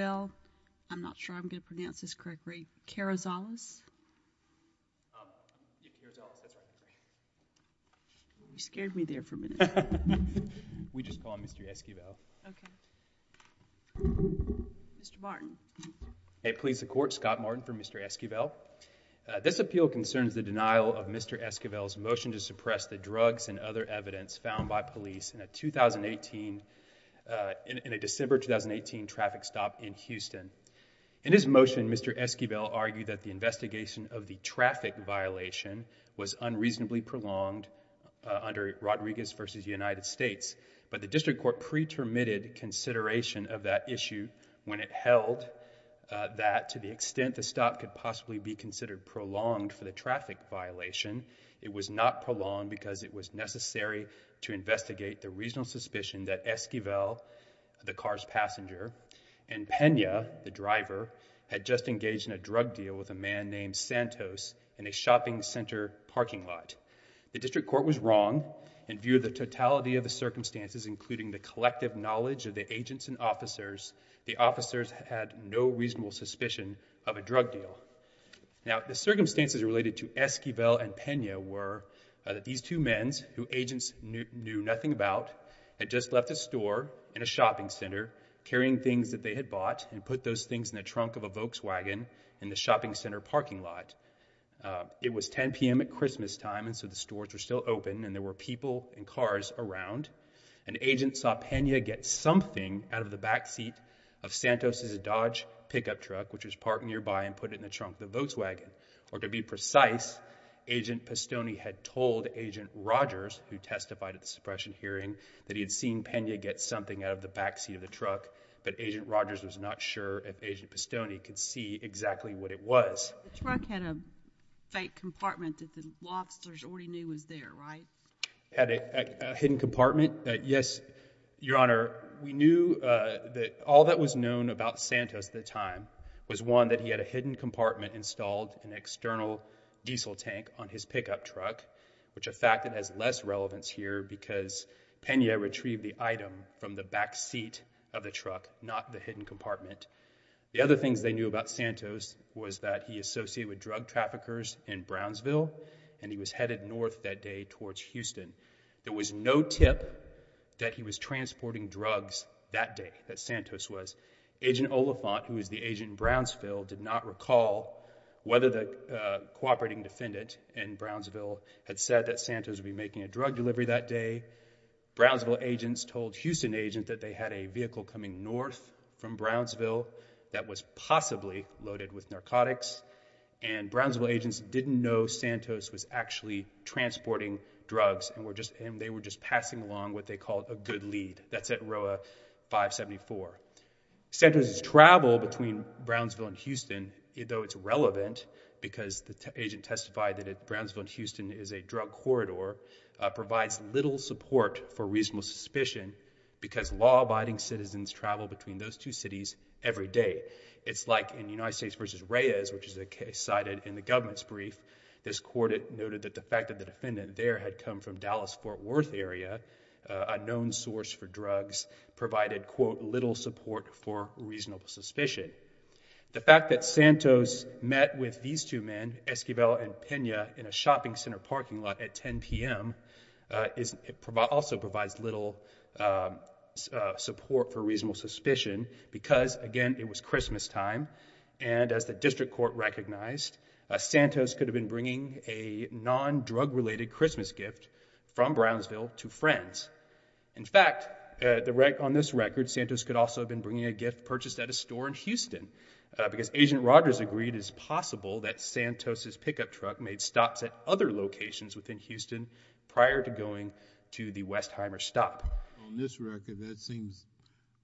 Esquivel, I'm not sure I'm going to pronounce this correctly, Carrizales, you scared me there for a minute. We just call him Mr. Esquivel. Okay. Mr. Martin. Hey police the court, Scott Martin for Mr. Esquivel. This appeal concerns the denial of Mr. Esquivel's motion to suppress the drugs and other evidence found by police in a 2018, in a Houston. In his motion, Mr. Esquivel argued that the investigation of the traffic violation was unreasonably prolonged under Rodriguez v. United States, but the district court pre-terminated consideration of that issue when it held that to the extent the stop could possibly be considered prolonged for the traffic violation, it was not prolonged because it was necessary to investigate the reasonable suspicion that Esquivel, the car's driver, had just engaged in a drug deal with a man named Santos in a shopping center parking lot. The district court was wrong and viewed the totality of the circumstances, including the collective knowledge of the agents and officers, the officers had no reasonable suspicion of a drug deal. Now, the circumstances related to Esquivel and Pena were that these two men, who agents knew nothing about, had just left a store in a shopping center carrying things that they had bought and put those things in the trunk of a Volkswagen in the shopping center parking lot. It was 10 p.m. at Christmas time and so the stores were still open and there were people and cars around. An agent saw Pena get something out of the back seat of Santos' Dodge pickup truck, which was parked nearby, and put it in the trunk of the Volkswagen, or to be precise, Agent Postone had told Agent Rogers, who testified at the suppression hearing, that he had seen Pena get something out of the back seat of the truck, but Agent Rogers was not sure if Agent Postone could see exactly what it was. The truck had a fake compartment that the law officers already knew was there, right? Had a hidden compartment? Yes, Your Honor. We knew that all that was known about Santos at the time was, one, that he had a hidden compartment installed, an external diesel tank, on his pickup truck, which a fact that has less relevance here because Pena retrieved the item from the back seat of the truck, not the hidden compartment. The other things they knew about Santos was that he associated with drug traffickers in Brownsville and he was headed north that day towards Houston. There was no tip that he was transporting drugs that day, that Santos was. Agent Oliphant, who was the agent in Brownsville, did not recall whether the cooperating defendant in Brownsville had said that Santos would be making a drug delivery that day. Brownsville agents told Houston agents that they had a vehicle coming north from Brownsville that was possibly loaded with narcotics and Brownsville agents didn't know Santos was actually transporting drugs and they were just passing along what they called a good lead. That's at row 574. Santos' travel between Brownsville and Houston, though it's relevant because the agent testified that Brownsville and Houston is a drug corridor, provides little support for reasonable suspicion because law-abiding citizens travel between those two cities every day. It's like in United States versus Reyes, which is a case cited in the government's brief. This court noted that the fact that the defendant there had come from Dallas-Fort Worth area, a known source for drugs, provided quote little support for reasonable suspicion. The fact that Santos met with these two men, Esquivel and Pena, in a shopping center parking lot at 10 p.m. also provides little support for reasonable suspicion because, again, it was Christmastime and as the district court recognized, Santos could have been bringing a non-drug related Christmas gift from Brownsville to friends. In fact, on this record, Santos could also have been bringing a gift purchased at a store in Houston because Agent Rogers agreed it's possible that Santos' pickup truck made stops at other locations within Houston prior to going to the Westheimer stop. On this record, that seems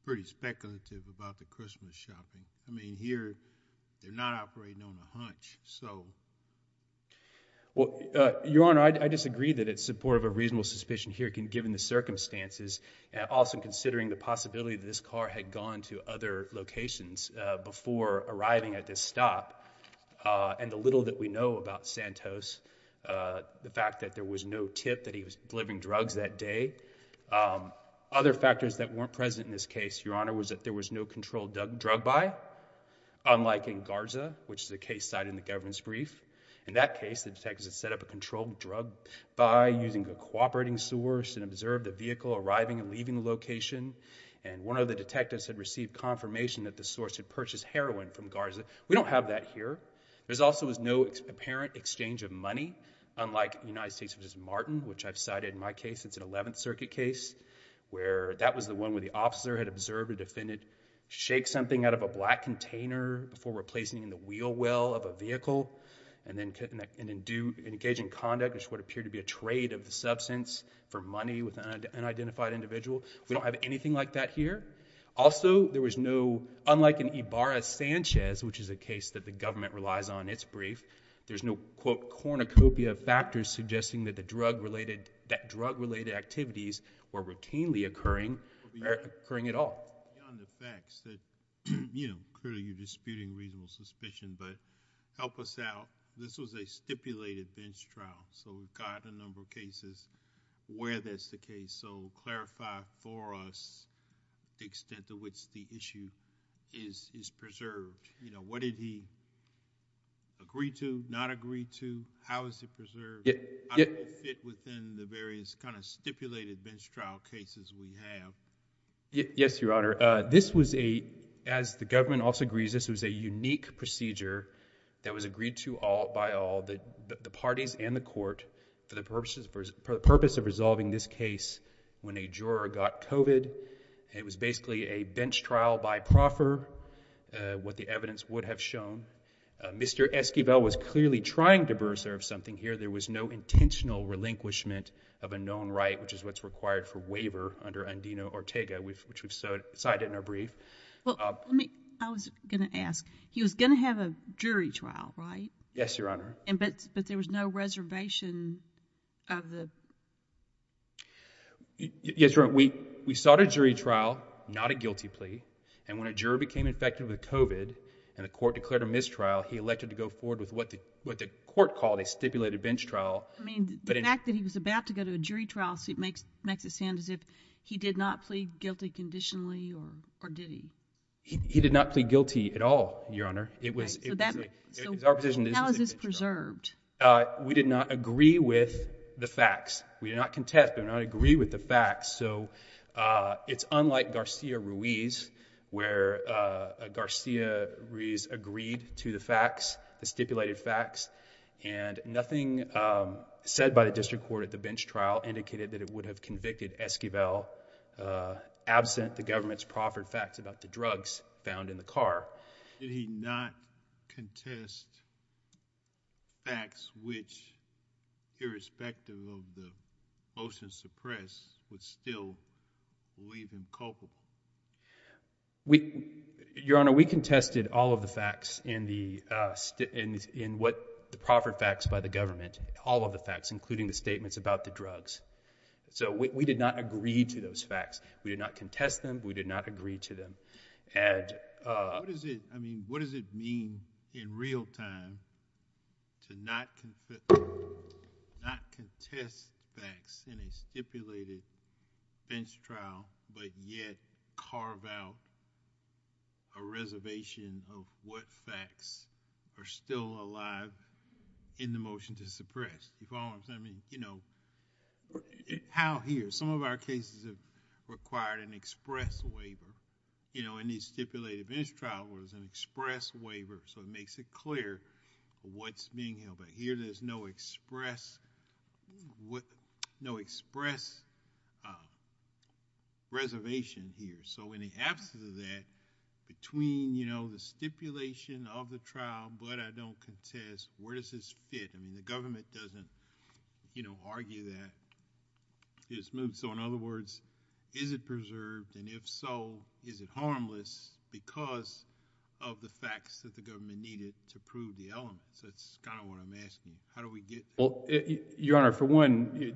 pretty speculative about the Christmas shopping. I mean, here, they're not operating on a hunch, so... Well, Your Honor, I disagree that it's support of a reasonable suspicion here given the circumstances and also considering the possibility that this car had gone to other locations before arriving at this stop and the little that we know about Santos, the fact that there was no tip that he was delivering drugs that day. Other factors that weren't present in this case, Your Honor, was that there was no controlled drug buy, unlike in Garza, which is a case cited in the governance brief. In that case, the detectives had set up a controlled drug buy using a cooperating source and observed the vehicle arriving and leaving the location and one of the detectives had received confirmation that the source had purchased heroin from Garza. We don't have that here. There also was no apparent exchange of money, unlike in the United States, which is Martin, which I've cited in my case. It's an 11th Circuit case where that was the one where the officer had observed a defendant shake something out of a black container before replacing in the wheel well of a vehicle and then engage in conduct, which would appear to be a trade of the substance for money with an unidentified individual. We don't have anything like that here. Also, there was no, unlike in Ibarra-Sanchez, which is a case the government relies on in its brief, there's no quote cornucopia of factors suggesting that drug-related activities were routinely occurring or occurring at all. Beyond the facts that, you know, clearly you're disputing reasonable suspicion, but help us out. This was a stipulated bench trial, so we've got a number of cases where that's the case, so clarify for us the extent to which the issue is preserved. You know, what did he agree to, not agree to? How is it preserved? How does it fit within the various kind of stipulated bench trial cases we have? Yes, Your Honor. This was a, as the government also agrees, this was a unique procedure that was agreed to by all the parties and the court for the purpose of resolving this case when a juror got COVID. It was basically a bench trial by the court, as you have shown. Mr. Esquivel was clearly trying to preserve something here. There was no intentional relinquishment of a known right, which is what's required for waiver under Andino-Ortega, which we've cited in our brief. Well, let me, I was going to ask. He was going to have a jury trial, right? Yes, Your Honor. But there was no reservation of the... Yes, Your Honor. We sought a jury trial, not a guilty plea, and when a juror became infected with COVID and the court declared a mistrial, he elected to go forward with what the court called a stipulated bench trial. I mean, the fact that he was about to go to a jury trial suit makes it sound as if he did not plead guilty conditionally, or did he? He did not plead guilty at all, Your Honor. It was... How is this preserved? We did not agree with the facts. We did not contest, but we did not agree with the facts. Garcia-Ruiz agreed to the facts, the stipulated facts, and nothing said by the district court at the bench trial indicated that it would have convicted Esquivel absent the government's proffered facts about the drugs found in the car. Did he not contest facts which, irrespective of the motion suppressed, would still leave him culpable? Your Honor, we contested all of the facts in the proffered facts by the government, all of the facts, including the statements about the drugs. So we did not agree to those facts. We did not contest them. We did not agree to them. What does it mean in real time to not contest facts in a stipulated bench trial, but yet carve out a reservation of what facts are still alive in the motion to suppress? You follow what I'm saying? How here? Some of our cases have required an express waiver. In these stipulated bench trials, there's an express waiver, so it makes it clear what's being held back. Here, there's no express reservation here. In the absence of that, between the stipulation of the trial, but I don't contest, where does this fit? The government doesn't argue that. In other words, is it preserved, and if so, is it harmless because of the facts that the government needed to prove the elements? That's kind of what I'm asking. How do we get... Your Honor, for one,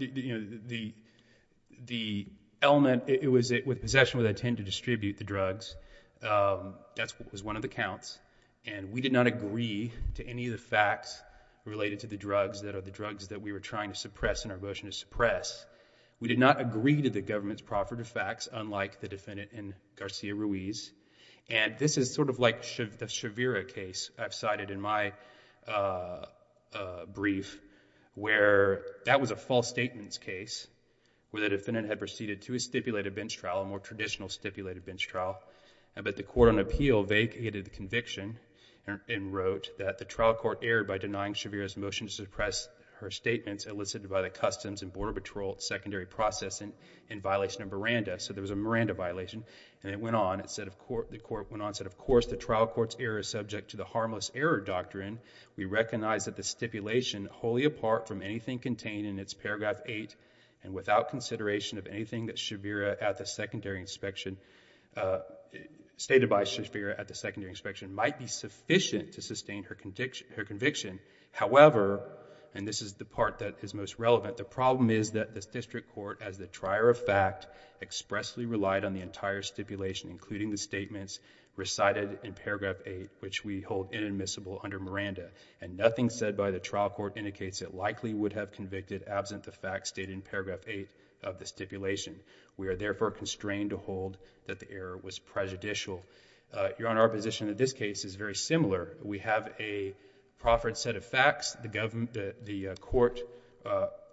the element, it was with possession where they tend to distribute the drugs. That was one of the counts, and we did not agree to any of the facts related to the drugs that are the drugs that we were trying to suppress in our motion to suppress. We did not agree to the government's proffered facts, unlike the defendant in Garcia-Ruiz. This is sort of like the Shavira case I've cited in my brief, where that was a false statements case where the defendant had proceeded to a stipulated bench trial, a more traditional stipulated bench trial, but the court on appeal vacated the conviction and wrote that the trial court erred by denying Shavira's motion to suppress her statements elicited by the Customs and Border Patrol secondary process in violation of Miranda. So there was a Miranda violation, and it went on. The court went on and said, of course the trial court's error is subject to the harmless error doctrine. We recognize that the stipulation, wholly apart from anything contained in its paragraph eight and without consideration of anything that Shavira at the secondary inspection... stated by Shavira at the secondary inspection, might be sufficient to sustain her conviction. However, and this is the part that is most relevant, the problem is that the district court, as the trier of fact, expressly relied on the entire stipulation, including the statements recited in paragraph eight, which we hold inadmissible under Miranda. Nothing said by the trial court indicates it likely would have convicted absent the facts stated in paragraph eight of the stipulation. We are therefore constrained to hold that the error was prejudicial. Your Honor, our position in this case is very similar. We have a proffered set of facts. The court,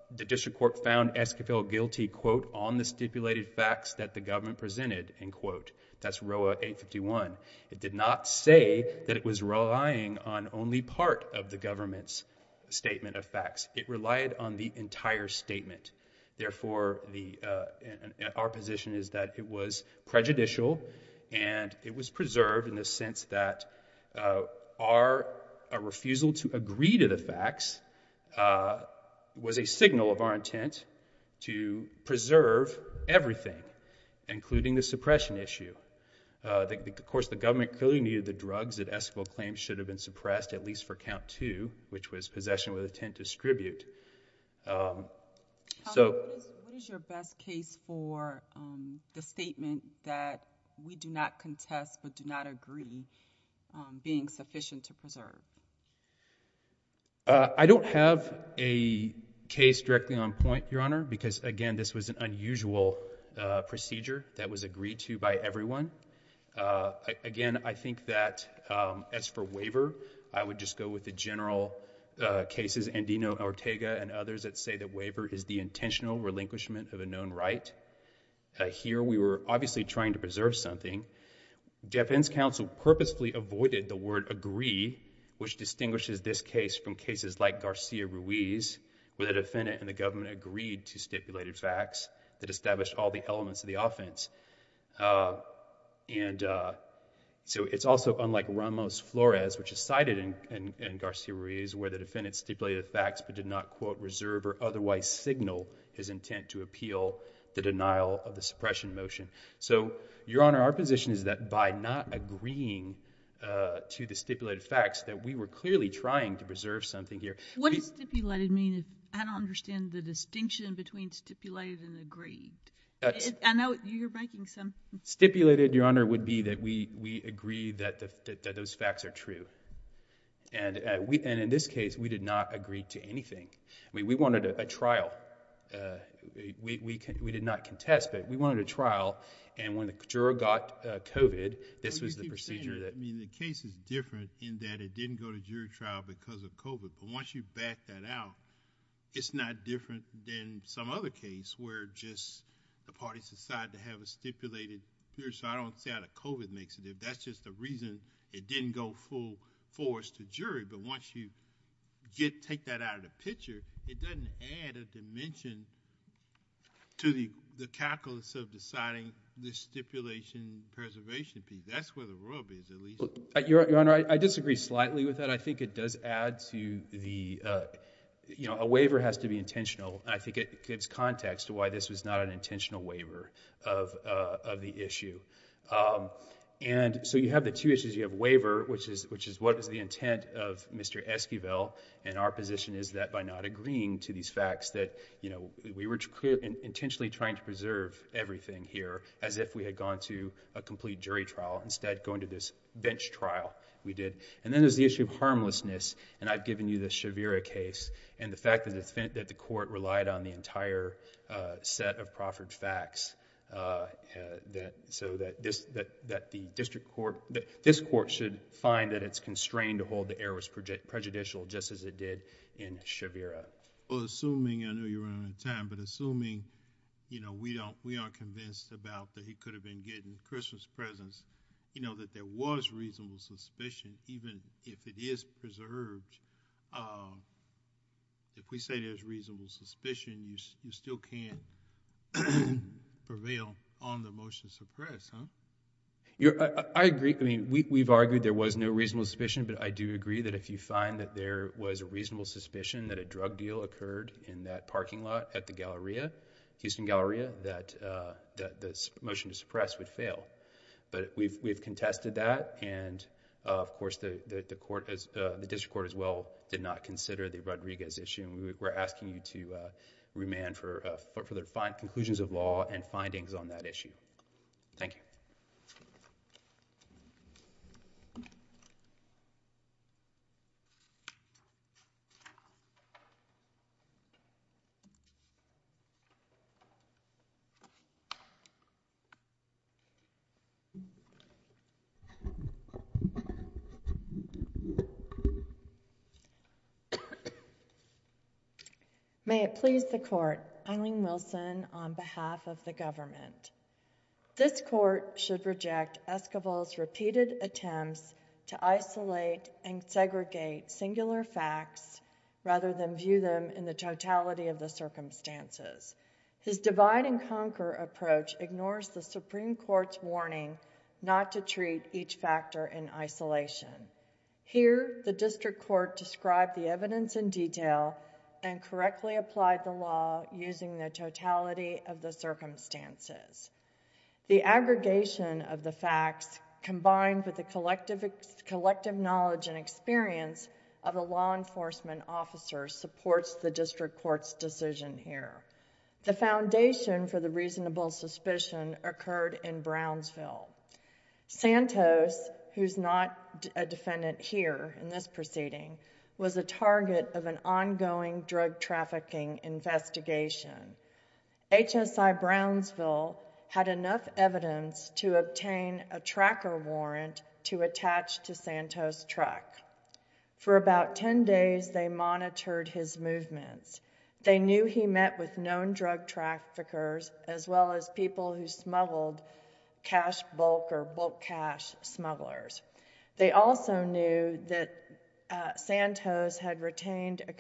the district court found Esquivel guilty, quote, on the stipulated facts that the government presented, end quote. That's row 851. It did not say that it was relying on only part of the government's statement of facts. It relied on the entire statement. Therefore, our position is that it was prejudicial and it was preserved in the sense that our refusal to agree to the facts was a signal of our intent to preserve everything, including the suppression issue. Of course, the government clearly needed the drugs that Esquivel claimed should have been suppressed, at least for count two, which was possession with intent to distribute. What is your best case for the statement that we do not contest but do not agree being sufficient to preserve? I don't have a case directly on point, Your Honor, because, again, this was an unusual procedure that was agreed to by everyone. Again, I think that as for waiver, I would just go with the general cases, Andino, Ortega, and others that say that waiver is the intentional relinquishment of a known right. Here, we were obviously trying to preserve something. Defendant's counsel purposefully avoided the word agree, which distinguishes this case from cases like Garcia Ruiz, where the defendant and the government agreed to stipulated facts that established all the elements of the offense. It's also unlike Ramos Flores, which is cited in Garcia Ruiz, where the defendant stipulated facts but did not reserve or otherwise signal his intent to appeal the denial of the suppression motion. Your Honor, our position is that by not agreeing to the stipulated facts, that we were clearly trying to preserve something here. What does stipulated mean? I don't understand the distinction between stipulated and agreed. Stipulated, Your Honor, would be that we agree that those facts are true. And in this case, we did not agree to anything. We wanted a trial. We did not contest, but we wanted a trial. And when the juror got COVID, this was the procedure that... The case is different in that it didn't go to jury trial because of COVID. But once you back that out, it's not different than some other case where just the parties decide to have a stipulated... So I don't see how the COVID makes it different. That's just the reason it didn't go full force to jury. But once you take that out of the picture, it doesn't add a dimension to the calculus of deciding the stipulation preservation piece. That's where the rub is, at least. Your Honor, I disagree slightly with that. I think it does add to the... A waiver has to be intentional. I think it gives context to why this was not an intentional waiver of the issue. So you have the two issues. You have waiver, which is what is the intent of Mr. Esquivel. And our position is that by not agreeing to these facts, that we were intentionally trying to preserve everything here as if we had gone to a complete jury trial, instead going to this bench trial we did. And then there's the issue of harmlessness. And I've given you the Shavira case. And the fact that the court relied on the entire set of proffered facts so that the district court... this court should find that it's constrained to hold the errors prejudicial just as it did in Shavira. Well, assuming... I know you're running out of time, but assuming we aren't convinced about that he could have been getting Christmas presents, that there was reasonable suspicion, even if it is preserved, if we say there's reasonable suspicion, you still can't prevail on the motion to suppress, huh? I agree. I mean, we've argued there was no reasonable suspicion, but I do agree that if you find that there was a reasonable suspicion that a drug deal occurred in that parking lot at the Galleria, Houston Galleria, that the motion to suppress would fail. But we've contested that, and of course the district court as well did not consider the Rodriguez issue. We're asking you to remand for conclusions of law and findings on that issue. Thank you. May it please the court, Eileen Wilson, on behalf of the government. This court should reject Esquivel's repeated attempts to isolate and segregate singular facts rather than view them in the totality of the circumstances. ignores the Supreme Court's recommendation to the Supreme Court and the Supreme Court's warning not to treat each factor in isolation. Here, the district court described the evidence in detail and correctly applied the law using the totality of the circumstances. The aggregation of the facts combined with the collective knowledge and experience of a law enforcement officer supports the district court's decision here. The foundation for the reasonable suspicion occurred in Brownsville. Santos, who's not a defendant here in this proceeding, was a target of an ongoing drug trafficking investigation. HSI Brownsville had enough evidence to obtain a tracker warrant to attach to Santos' truck. For about 10 days, they monitored his movements. They knew he met with known drug traffickers as well as people who smuggled cash bulk or bulk cash smugglers. They also knew that Santos had retained a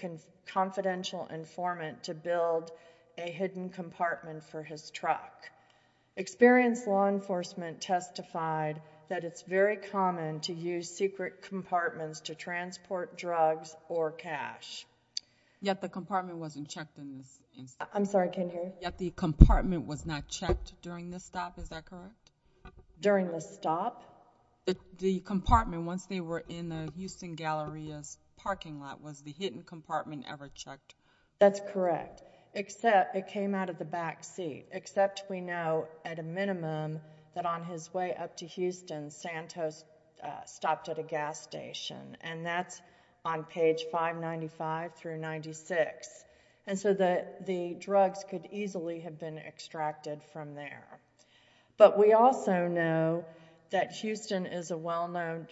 confidential informant to build a hidden compartment for his truck. Experienced law enforcement testified that it's very common to use secret compartments to transport drugs or cash. Yet the compartment wasn't checked in this instance? I'm sorry, I can't hear you. Yet the compartment was not checked during this stop, is that correct? During the stop? The compartment, once they were in the Houston Galleria's parking lot, was the hidden compartment ever checked? That's correct, except it came out of the back seat, except we know at a minimum that on his way up to Houston Santos stopped at a gas station and that's on page 595 through 96. So the drugs could easily have been extracted from there. But we also know that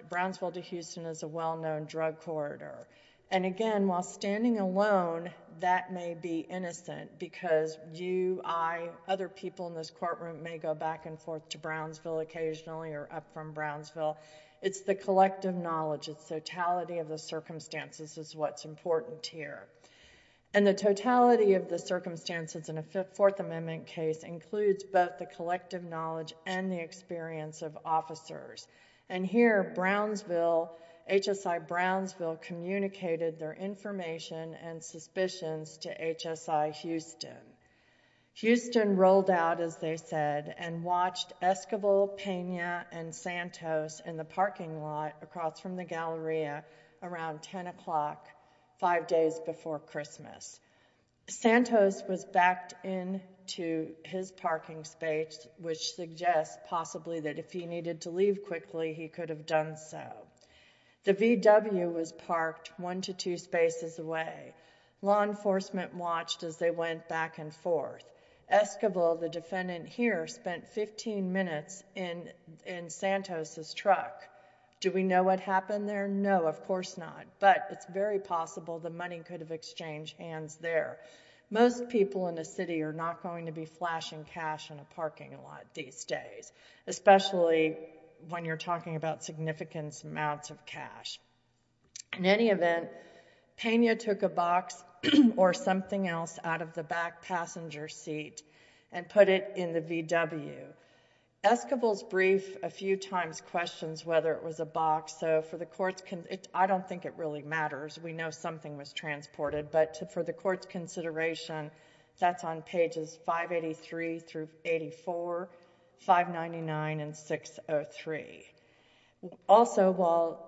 Brownsville to Houston is a well-known drug corridor. Again, while standing alone, that may be innocent because you, I, other people in this courtroom may go back and forth to Brownsville occasionally or up from Brownsville. It's the collective knowledge, it's the totality of the circumstances is what's important here. And the totality of the circumstances in a Fourth Amendment case includes both the collective knowledge and the experience of officers. And here, Brownsville, HSI Brownsville communicated their information and suspicions to HSI Houston. Houston rolled out, as they said, and watched Esquivel, Pena, and Santos in the parking lot across from the Galleria around 10 o'clock, five days before Christmas. Santos was backed into his parking space which suggests possibly that if he needed to leave quickly, he could have done so. The VW was parked one to two spaces away. Law enforcement watched as they went back and forth. Esquivel, the defendant here, spent fifteen minutes in Santos' truck. Do we know what happened there? No, of course not, but it's very possible the money could have exchanged hands there. Most people in the city are not going to be flashing cash in a parking lot these days, especially when you're talking about significant amounts of cash. In any event, Pena took a box or something else out of the back passenger seat and put it in the VW. Esquivel's brief a few times questions whether it was a box, so for the court's consideration, I don't think it really matters. We know something was transported, but for the court's consideration, that's on pages 583 through 84, 599 and 603. Also, while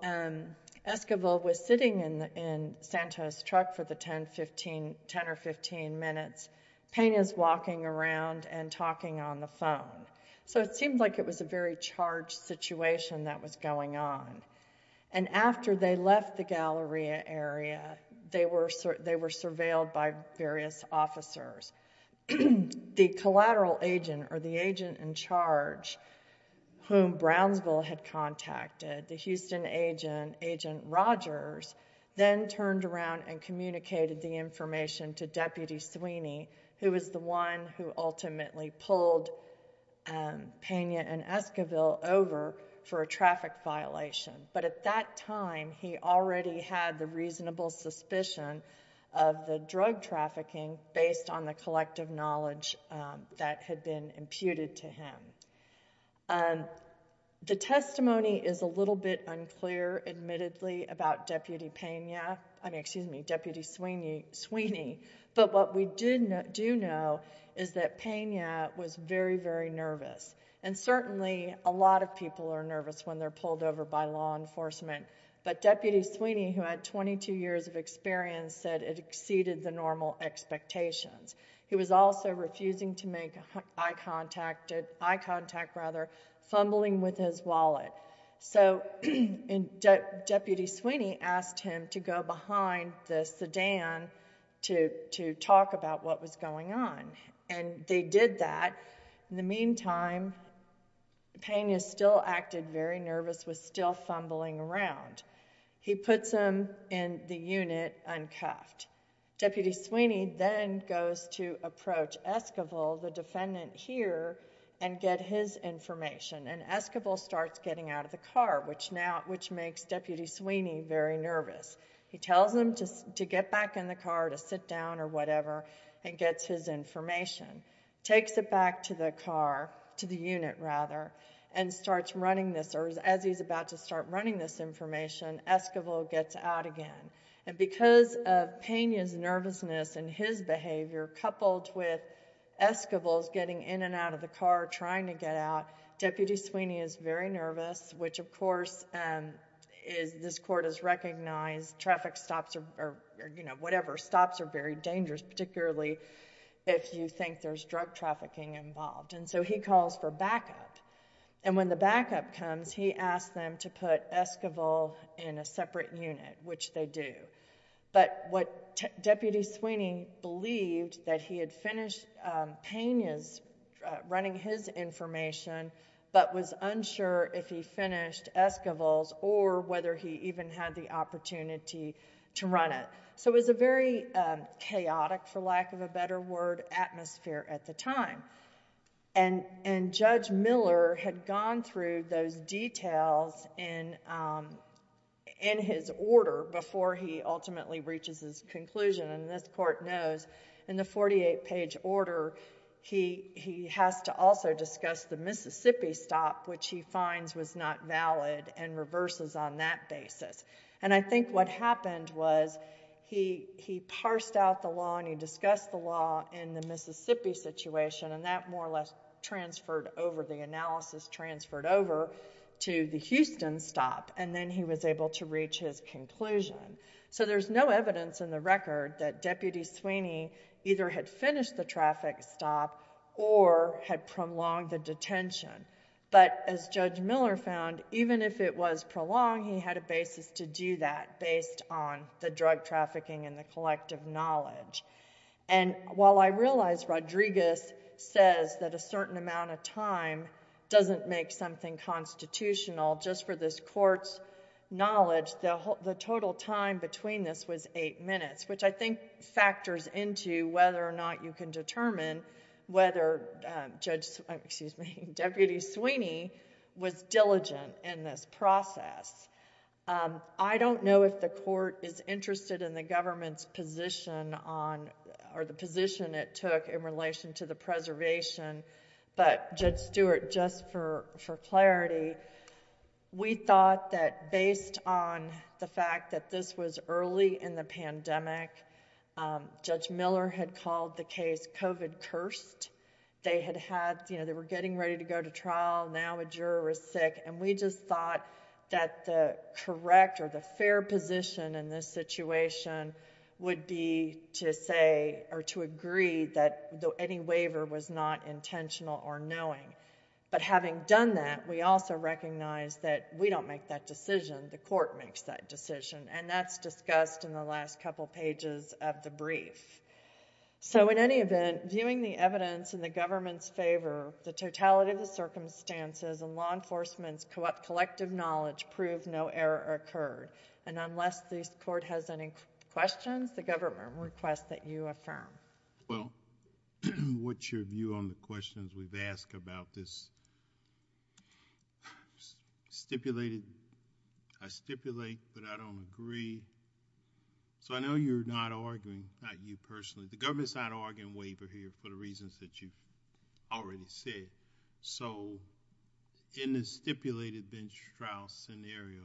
Esquivel was sitting in Santos' truck for the ten or fifteen minutes, Pena's walking around and talking on the phone, so it seemed like it was a very charged situation that was going on, and after they left the Galleria area, they were surveilled by various officers. The collateral agent, or the agent in charge, whom Brownsville had contacted, the Houston agent, Agent Rogers, then turned around and communicated the information to Deputy Sweeney, who was the one who ultimately pulled Pena and Esquivel over for a traffic violation, but at that time, he already had the reasonable suspicion of the drug trafficking based on the collective knowledge that had been imputed to him. The testimony is a little bit unclear, admittedly, about Deputy Sweeney, but what we do know is that Pena was very, very nervous, and certainly, a lot of people are nervous when they're pulled over by law enforcement, but Deputy Sweeney, who had twenty-two years of experience, said it was very, very difficult for him to make eye contact. He was also refusing to make eye contact, rather, fumbling with his wallet, so Deputy Sweeney asked him to go behind the sedan to talk about what was going on, and they did that. In the meantime, Pena still acted very nervous, was still fumbling around. He puts him in the unit, uncuffed. Deputy Sweeney then goes to approach Esquivel, the defendant here, and get his information, and Esquivel starts getting out of the car, which makes Deputy Sweeney very nervous. He tells him to get back in the car, to sit down or whatever, and gets his information, takes it back to the car, to the unit rather, and starts running this, or as he's about to start running this information, Esquivel gets out again. Because of Pena's nervousness and his behavior, coupled with Esquivel's getting in and out of the car trying to get out, Deputy Sweeney is very nervous, which of course this court has recognized traffic stops or whatever, stops are very dangerous, particularly if you think there's drug trafficking involved. And so he calls for backup. And when the backup comes, he asks them to put Esquivel in a separate unit, which they do. But what Deputy Sweeney believed that he had finished Pena's running his information, but was unsure if he finished Esquivel's or whether he even had the opportunity to run it. So it was a very difficult time. And Judge Miller had gone through those details in his order before he ultimately reaches his conclusion. And this court knows in the 48-page order he has to also discuss the Mississippi stop, which he finds was not valid, and reverses on that basis. And I think what happened was he parsed out the law and he discussed the law in the Mississippi situation and that more or less transferred over, the analysis transferred over to the Houston stop and then he was able to reach his conclusion. So there's no evidence in the record that Deputy Sweeney either had finished the traffic stop or had prolonged the detention. But as Judge Miller found, even if it was prolonged he had a basis to do that based on the drug trafficking and the collective knowledge. And while I realize Rodriguez says that a certain amount of time doesn't make something constitutional, just for this court's knowledge, the total time between this was eight minutes, which I think factors into whether or not you can determine whether Deputy Sweeney was diligent in this process. I don't know if the court is interested in the government's position on or the position it took in relation to the preservation but Judge Stewart, just for clarity, we thought that based on the fact that this was early in the pandemic, Judge Miller had called the case COVID cursed. They were getting ready to go to trial, now a juror was sick and we just thought that the correct or the fair position in this situation would be to say or to agree that any waiver was not intentional or knowing. But having done that we also recognize that we don't make that decision the court makes that decision and that's discussed in the last couple pages of the brief. So in any event, viewing the evidence in the government's favor, the totality of the circumstances and law enforcement's collective knowledge proved no error occurred. And unless the court has any questions, the government requests that you affirm. Well, what's your view on the questions we've asked about this stipulated... I stipulate but I don't agree. So I know you're not arguing, not you personally, the government's not already said. So in this stipulated bench trial scenario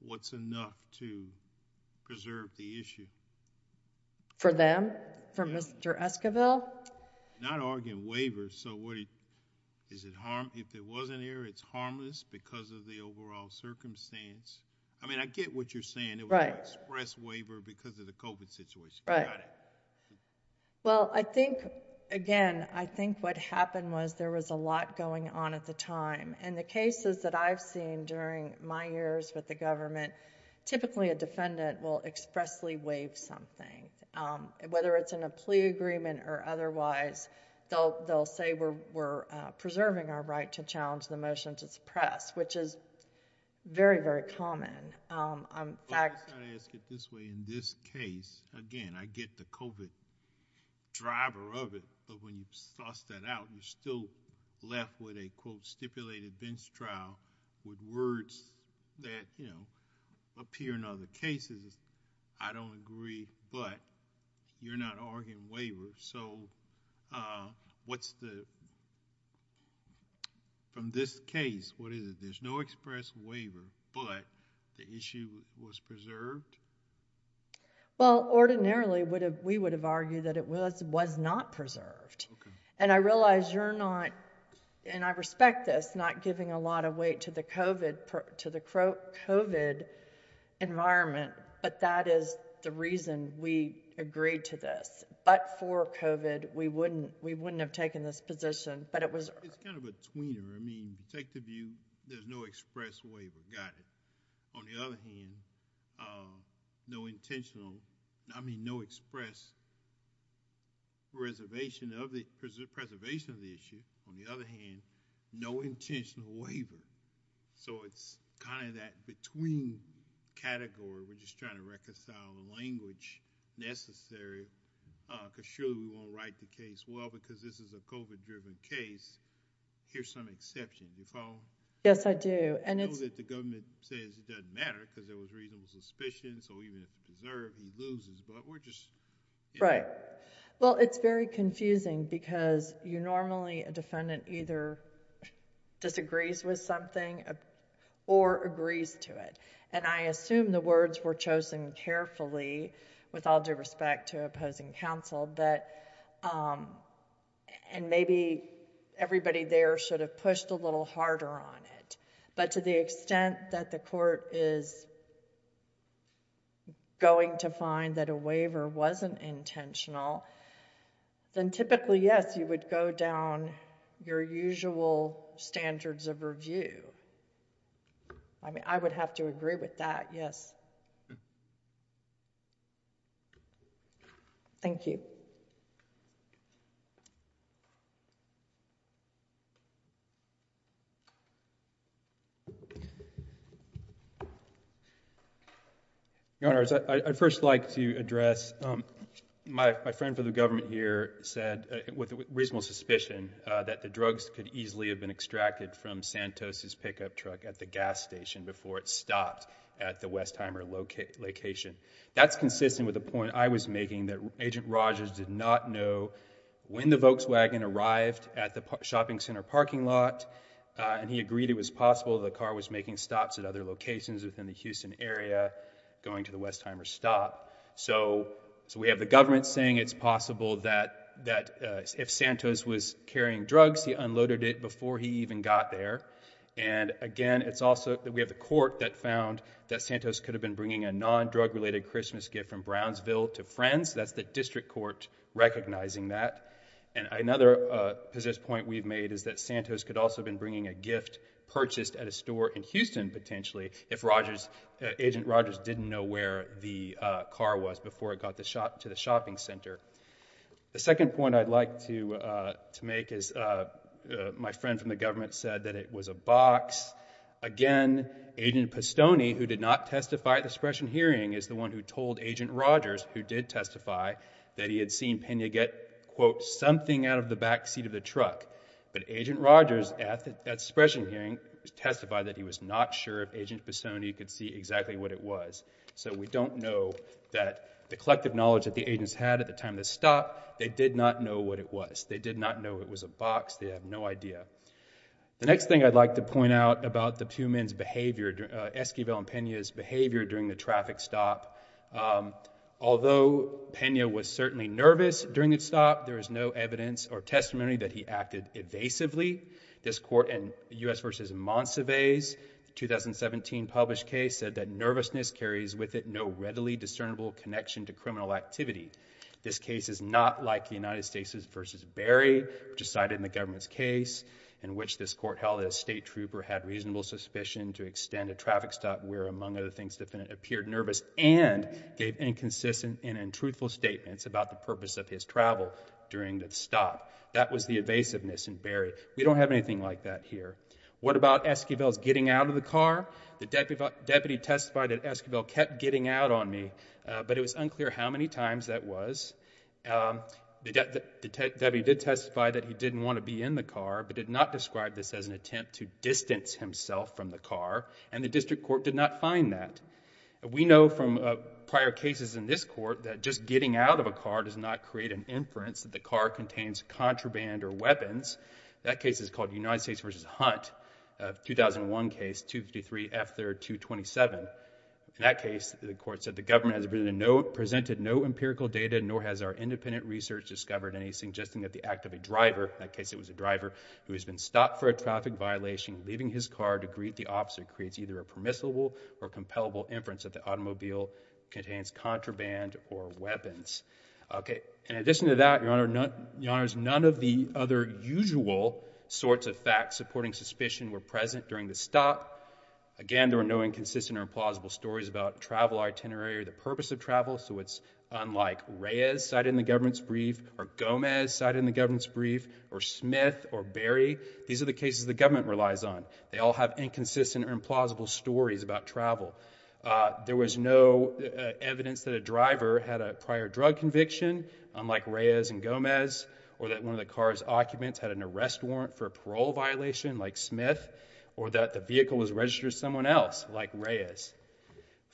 what's enough to preserve the issue? For them? For Mr. Esquivel? Not arguing waiver. So what is it harm... if it wasn't here, it's harmless because of the overall circumstance. I mean, I get what you're saying. Right. Express waiver because of the COVID situation. Right. Well, I think again, I think what happened was there was a lot going on at the time. And the cases that I've seen during my years with the government, typically a defendant will expressly waive something. Whether it's in a plea agreement or otherwise they'll say we're preserving our right to challenge the motion to suppress, which is very, very common. In this case, again, I get the COVID driver of it. But when you toss that out, you're still left with a, quote, stipulated bench trial with words that, you know, appear in other cases. I don't agree but you're not arguing waiver. So what's the... from this case, what is it? But the issue was preserved? Well, ordinarily, we would have argued that it was not preserved. And I realize you're not, and I respect this, not giving a lot of weight to the COVID environment. But that is the reason we agreed to this. But for COVID, we wouldn't have taken this position. But it was... It's kind of a tweener. I mean, take the view, there's no express waiver. Got it. On the other hand, no intentional... I mean, no express reservation of the preservation of the issue. On the other hand, no intentional waiver. So it's kind of that between category. We're just trying to reconcile the language necessary because surely we won't write the case well because this is a COVID-driven case. Here's some exception. Do you follow? Yes, I do. I know that the government says it doesn't matter because there was reasonable suspicion. So even if it's preserved, he loses. But we're just... Right. Well, it's very confusing because you normally, a defendant either disagrees with something or agrees to it. And I assume the words were chosen carefully with all due respect to and maybe everybody there sort of pushed a little harder on it. But to the extent that the court is going to find that a waiver wasn't intentional, then typically, yes, you would go down your usual standards of review. I mean, I would have to agree with that, yes. Thank you. Thank you. Your Honors, I'd first like to address my friend for the government here said with reasonable suspicion that the drugs could easily have been extracted from Santos' pickup truck at the gas station before it stopped at the Westheimer location. That's consistent with the point I was making that Agent Rogers did not know when the Volkswagen arrived at the shopping center parking lot and he agreed it was possible the car was making stops at other locations within the Houston area going to the Westheimer stop. So we have the government saying it's possible that if Santos was carrying drugs, he unloaded it before he even got there. And again, it's also that we have the court that found that Santos could have been bringing a non-drug related Christmas gift from Brownsville to Friends. That's the district court recognizing that. And another point we've made is that Santos could also have been bringing a gift purchased at a store in Houston, potentially, if Agent Rogers didn't know where the car was before it got to the shopping center. The second point I'd like to make is my friend from the government said that it was a box. Again, Agent Pistone, who did not testify at the suppression hearing, is the one who told Agent Rogers, who did testify, that he had seen Pena get, quote, something out of the back seat of the truck. But Agent Rogers at the suppression hearing testified that he was not sure if Agent Pistone could see exactly what it was. So we don't know that the collective knowledge that the agents had at the time of the stop, they did not know what it was. They did not know it was a box. They have no idea. The next thing I'd like to point out about the two men's behavior, Esquivel and Pena's behavior during the traffic stop, although Pena was certainly nervous during the stop, there is no evidence or testimony that he acted evasively. This court in U.S. v. Monsivais 2017 published case said that nervousness carries with it no readily discernible connection to criminal activity. This case is not like the United States v. Berry, which is cited in the government's case in which this court held a state trooper had reasonable suspicion to extend a traffic stop where, among other things, the defendant appeared nervous and gave inconsistent and untruthful statements about the purpose of his travel during the stop. That was the evasiveness in Berry. We don't have anything like that here. What about Esquivel's getting out of the car? The deputy testified that Esquivel kept getting out on me, but it was unclear how many times that was. The deputy did testify that he didn't want to be in the car, but did not describe this as an attempt to distance himself from the car, and the district court did not find that. We know from prior cases in this court that just getting out of a car does not create an inference that the car contains contraband or weapons. That case is called United States v. Hunt, a 2001 case, 253 F. 3rd 227. In that case, the court said, the government has presented no empirical data, nor has our independent research discovered anything suggesting that the act of a driver, in that case it was a driver, who has been stopped for a traffic violation leaving his car to greet the officer creates either a permissible or compellable inference that the automobile contains contraband or weapons. In addition to that, Your Honor, none of the other usual sorts of facts supporting suspicion were present during the stop. Again, there were no inconsistent or implausible stories about travel itinerary or the purpose of travel, so it's unlike Reyes cited in the government's brief, or Gomez cited in the government's brief, or Smith, or Berry. These are the cases the government relies on. They all have inconsistent or implausible stories about travel. There was no evidence that a driver had a prior drug conviction, unlike Reyes and Gomez, or that one of the car's occupants had an arrest warrant for a parole violation, like Smith, or that the vehicle was registered as someone else, like Reyes.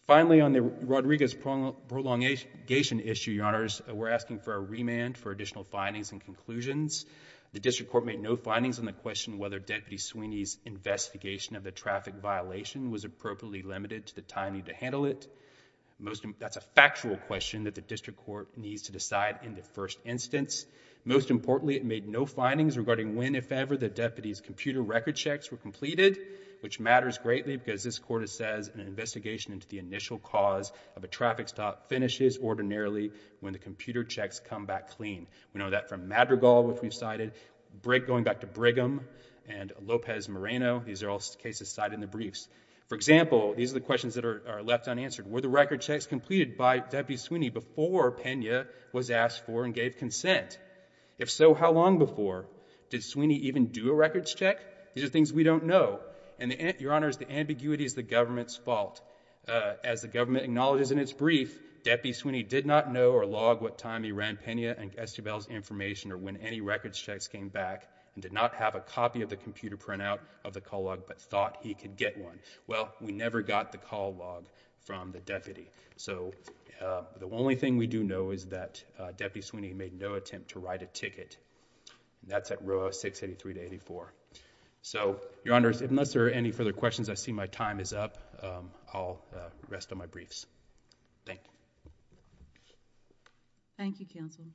Finally, on the Rodriguez prolongation issue, Your Honors, we're asking for a remand for additional findings and conclusions. The District Court made no findings on the question whether Deputy Sweeney's investigation of the traffic violation was appropriately limited to the time needed to handle it. That's a factual question that the District Court needs to decide in the first instance. Most importantly, it made no findings regarding when, if ever, the Deputy's computer record checks were completed, which matters greatly because this Court says an investigation into the initial cause of a traffic stop finishes ordinarily when the computer checks come back clean. We know that from Madrigal, which we've cited, going back to Brigham, and Lopez Moreno. These are all cases cited in the briefs. For example, these are the questions that are left unanswered. Were the record checks completed by Deputy Sweeney before Pena was asked for and gave consent? If so, how long before? Did Sweeney even do a records check? These are things we don't know. Your Honors, the ambiguity is the government's fault. As the government acknowledges in its brief, Deputy Sweeney did not know or log what time he ran Pena and Estabelle's information or when any records checks came back, and did not have a copy of the computer printout of the call log, but thought he could get one. Well, we never got the call log from the Deputy. The only thing we do know is that Deputy Sweeney made no attempt to write a ticket. That's at row 683-84. Your Honors, unless there are any further questions, I see my time is up. I'll rest on my briefs. Thank you. Thank you, Counselor.